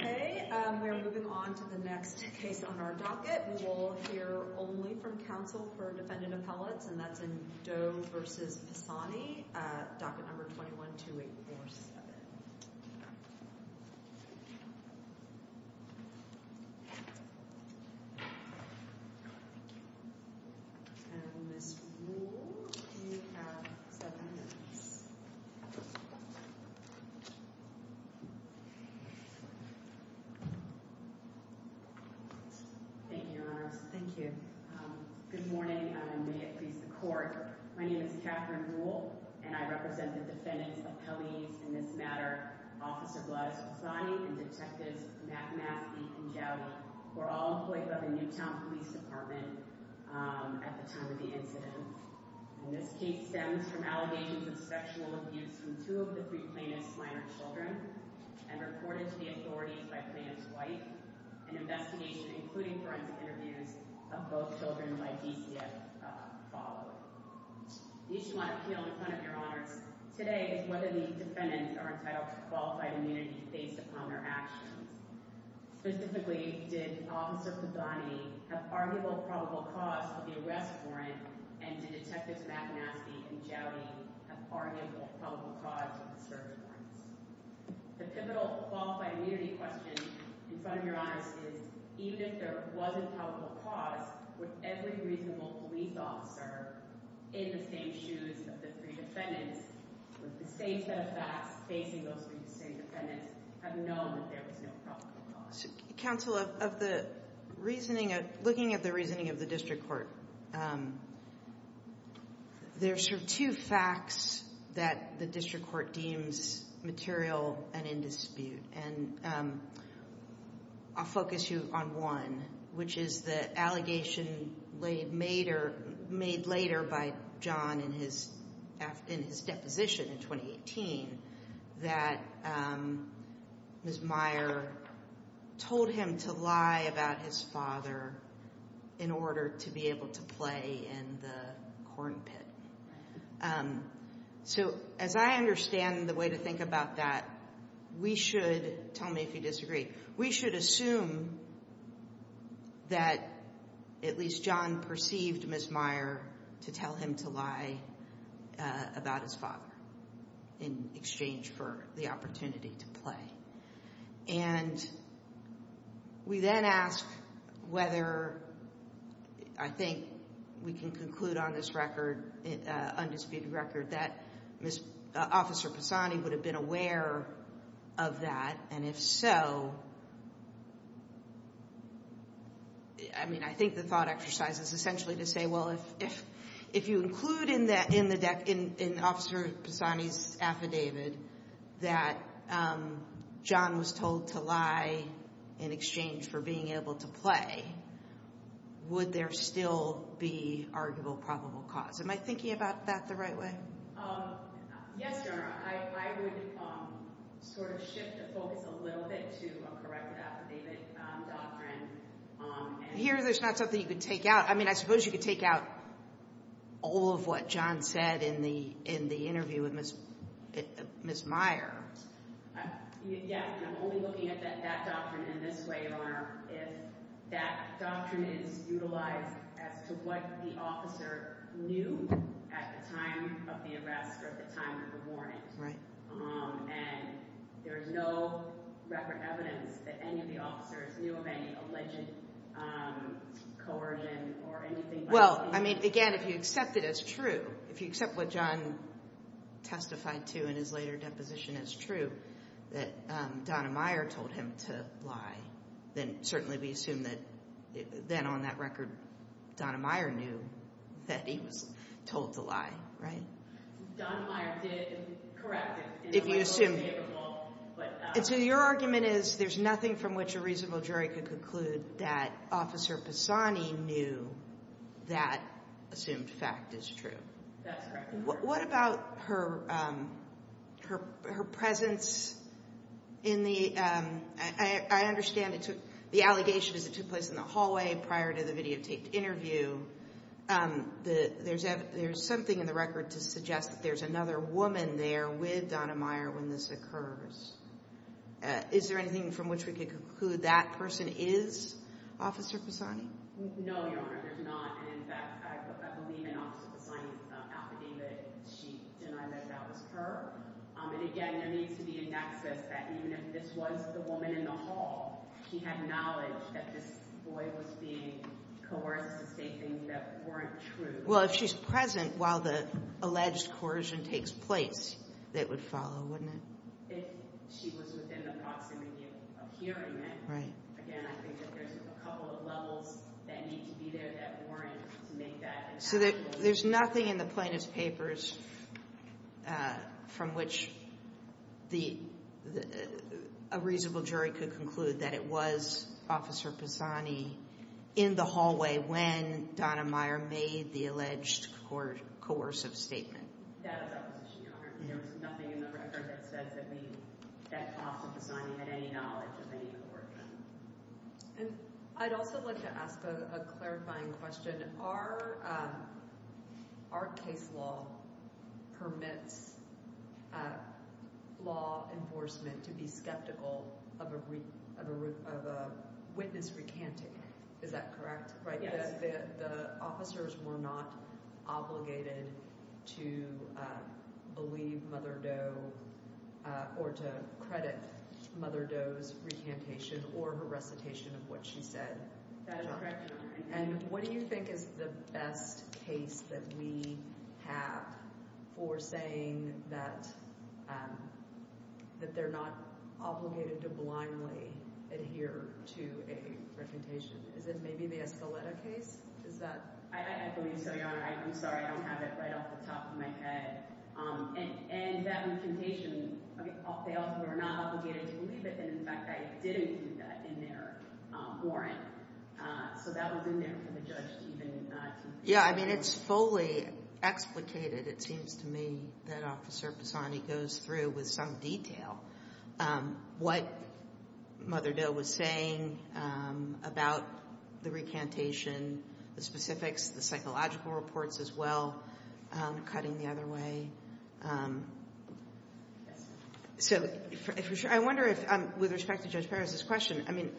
Okay, we are moving on to the next case on our docket. We will hear only from counsel for defendant appellates, and that's in Doe v. Pisani, docket number 21-2847. And Ms. Rule, you have seven minutes. Thank you, Your Honors. Thank you. Good morning, and may it please the Court. My name is Katherine Rule, and I represent the defendants appellees in this matter, Officer Vladislav Pisani and Detectives Matt Maskey and Jowdy, who were all employed by the Newtown Police Department at the time of the incident. And this case stems from allegations of sexual abuse from two of the three plaintiffs' minor children and reported to the authorities by Plaintiff's Wife, an investigation including forensic interviews of both children by DCF followed. The issue on appeal in front of Your Honors today is whether these defendants are entitled to qualified immunity based upon their actions. Specifically, did Officer Pisani have arguable probable cause for the arrest warrant, and did Detectives Matt Maskey and Jowdy have arguable probable cause for the search warrants? The pivotal qualified immunity question in front of Your Honors is, even if there was a probable cause, would every reasonable police officer in the same shoes of the three defendants with the same set of facts facing those three defendants have known that there was no probable cause? Counsel, looking at the reasoning of the district court, there are two facts that the district court deems material and in dispute. And I'll focus you on one, which is the allegation made later by John in his deposition in 2018 that Ms. Meyer told him to lie about his father in order to be able to play in the corn pit. So as I understand the way to think about that, we should, tell me if you disagree, we should assume that at least John perceived Ms. Meyer to tell him to lie about his father in exchange for the opportunity to play. And we then ask whether I think we can conclude on this record, undisputed record, that Officer Pisani would have been aware of that. And if so, I mean, I think the thought exercise is essentially to say, well, if you include in Officer Pisani's affidavit that John was told to lie in exchange for being able to play, would there still be arguable probable cause? Am I thinking about that the right way? Yes, Your Honor. I would sort of shift the focus a little bit to a corrective affidavit doctrine. Here, there's not something you could take out. I mean, I suppose you could take out all of what John said in the interview with Ms. Meyer. Yes, and I'm only looking at that doctrine in this way, Your Honor, if that doctrine is utilized as to what the officer knew at the time of the arrest or at the time of the warning. And there's no record evidence that any of the officers knew of any alleged coercion or anything like that. I mean, again, if you accept it as true, if you accept what John testified to in his later deposition as true, that Donna Meyer told him to lie, then certainly we assume that then on that record, Donna Meyer knew that he was told to lie, right? Donna Meyer did, correct. And so your argument is there's nothing from which a reasonable jury could conclude that Officer Pisani knew that assumed fact is true. That's correct. What about her presence in the – I understand the allegation is it took place in the hallway prior to the videotaped interview. There's something in the record to suggest that there's another woman there with Donna Meyer when this occurs. Is there anything from which we could conclude that person is Officer Pisani? No, Your Honor, there's not. And, in fact, I believe in Officer Pisani's affidavit. She denied that that was her. And, again, there needs to be a nexus that even if this was the woman in the hall, she had knowledge that this boy was being coerced to say things that weren't true. Well, if she's present while the alleged coercion takes place, that would follow, wouldn't it? If she was within the proximity of hearing it. Right. Again, I think that there's a couple of levels that need to be there that warrant to make that – So there's nothing in the plaintiff's papers from which a reasonable jury could conclude that it was Officer Pisani in the hallway when Donna Meyer made the alleged coercive statement? That was Opposition, Your Honor. There was nothing in the record that said that Officer Pisani had any knowledge of any coercion. And I'd also like to ask a clarifying question. Our case law permits law enforcement to be skeptical of a witness recanting. Is that correct? Yes. So the officers were not obligated to believe Mother Doe or to credit Mother Doe's recantation or her recitation of what she said? That is correct, Your Honor. And what do you think is the best case that we have for saying that they're not obligated to blindly adhere to a recantation? Is it maybe the Escaleta case? Is that – I believe so, Your Honor. I'm sorry. I don't have it right off the top of my head. And that recantation, they also were not obligated to believe it, and in fact, I did include that in their warrant. So that was in there for the judge to even – Yeah, I mean, it's fully explicated, it seems to me, that Officer Pisani goes through with some detail what Mother Doe was saying about the recantation, the specifics, the psychological reports as well, cutting the other way. So I wonder if, with respect to Judge Perez's question, I mean,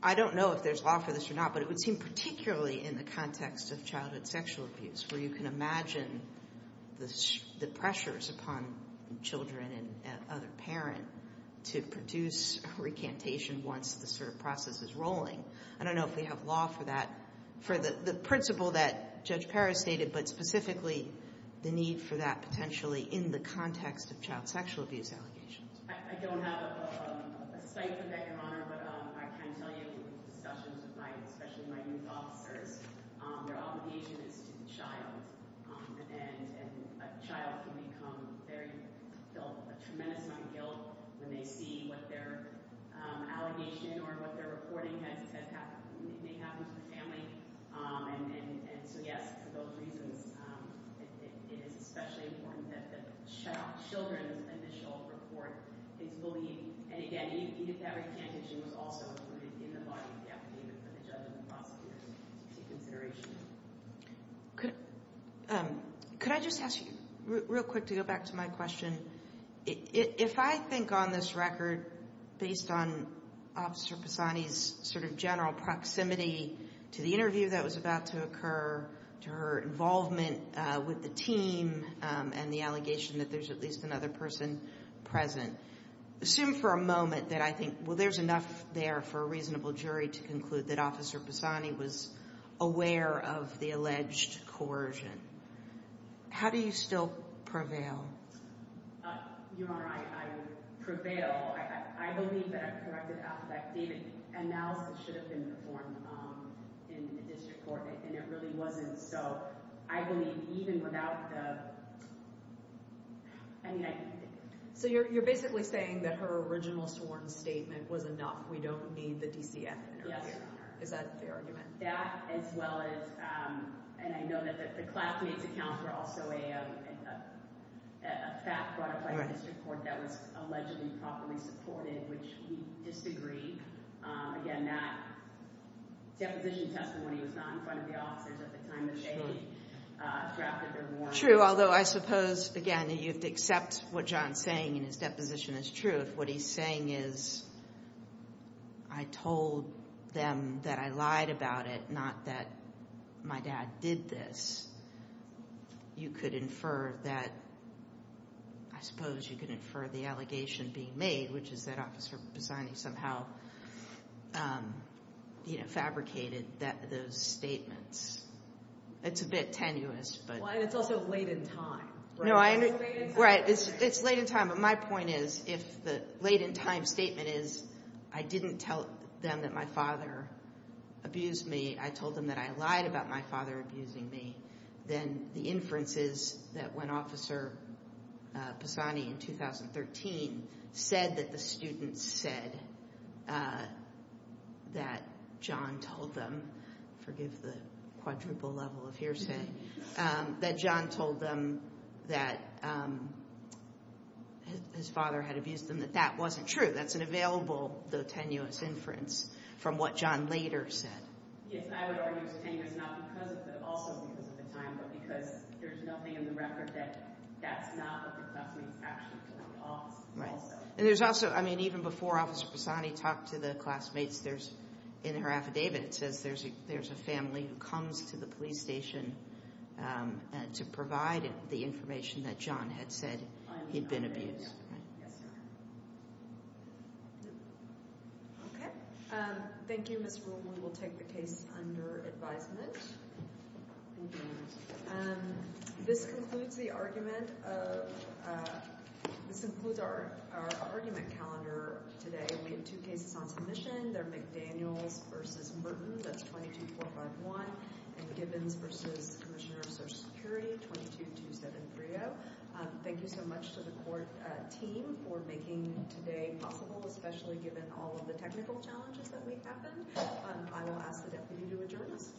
I don't know if there's law for this or not, but it would seem particularly in the context of childhood sexual abuse, where you can imagine the pressures upon children and other parents to produce a recantation once this sort of process is rolling. I don't know if we have law for that, for the principle that Judge Perez stated, but specifically the need for that potentially in the context of child sexual abuse allegations. I don't have a cite for that, Your Honor, but I can tell you from discussions with my – especially my youth officers, their obligation is to the child, and a child can become very – feel a tremendous amount of guilt when they see what their allegation or what their reporting has – may happen to the family. And so, yes, for those reasons, it is especially important that the children's initial report is fully – and again, even if that recantation was also included in the body of the application for the judgment of prosecutors to take consideration. Could I just ask you real quick to go back to my question? If I think on this record, based on Officer Pisani's sort of general proximity to the interview that was about to occur, to her involvement with the team and the allegation that there's at least another person present, assume for a moment that I think, well, there's enough there for a reasonable jury to conclude that Officer Pisani was aware of the alleged coercion. How do you still prevail? Your Honor, I would prevail. I believe that a corrected affidavit analysis should have been performed in the district court, and it really wasn't. So I believe even without the – I mean, I – So you're basically saying that her original sworn statement was enough. We don't need the DCF interview. Yes, Your Honor. Is that the argument? That, as well as – and I know that the classmate's accounts were also a fact brought up by the district court that was allegedly properly supported, which we disagree. Again, that deposition testimony was not in front of the officers at the time that they drafted their warrant. True, although I suppose, again, you have to accept what John's saying in his deposition as truth. What he's saying is I told them that I lied about it, not that my dad did this. You could infer that – I suppose you could infer the allegation being made, which is that Officer Pisani somehow fabricated those statements. It's a bit tenuous, but – Well, and it's also late in time. No, I – It's late in time. My point is if the late in time statement is I didn't tell them that my father abused me, I told them that I lied about my father abusing me, then the inference is that when Officer Pisani in 2013 said that the students said that John told them – his father had abused them, that that wasn't true. That's an available, though tenuous, inference from what John later said. Yes, I would argue it's tenuous, not because of – but also because of the time, but because there's nothing in the record that that's not what the classmate's actually told the officer. Right, and there's also – I mean, even before Officer Pisani talked to the classmates, there's – in her affidavit it says there's a family who comes to the police station to provide the information that John had said he'd been abused. Yes, ma'am. Okay. Thank you, Ms. Rule. We will take the case under advisement. Thank you. This concludes the argument of – this includes our argument calendar today. We have two cases on submission. They're McDaniels v. Merton. That's 22451. And Gibbons v. Commissioner of Social Security, 222730. Thank you so much to the court team for making today possible, especially given all of the technical challenges that may happen. I will ask the deputy to adjourn us.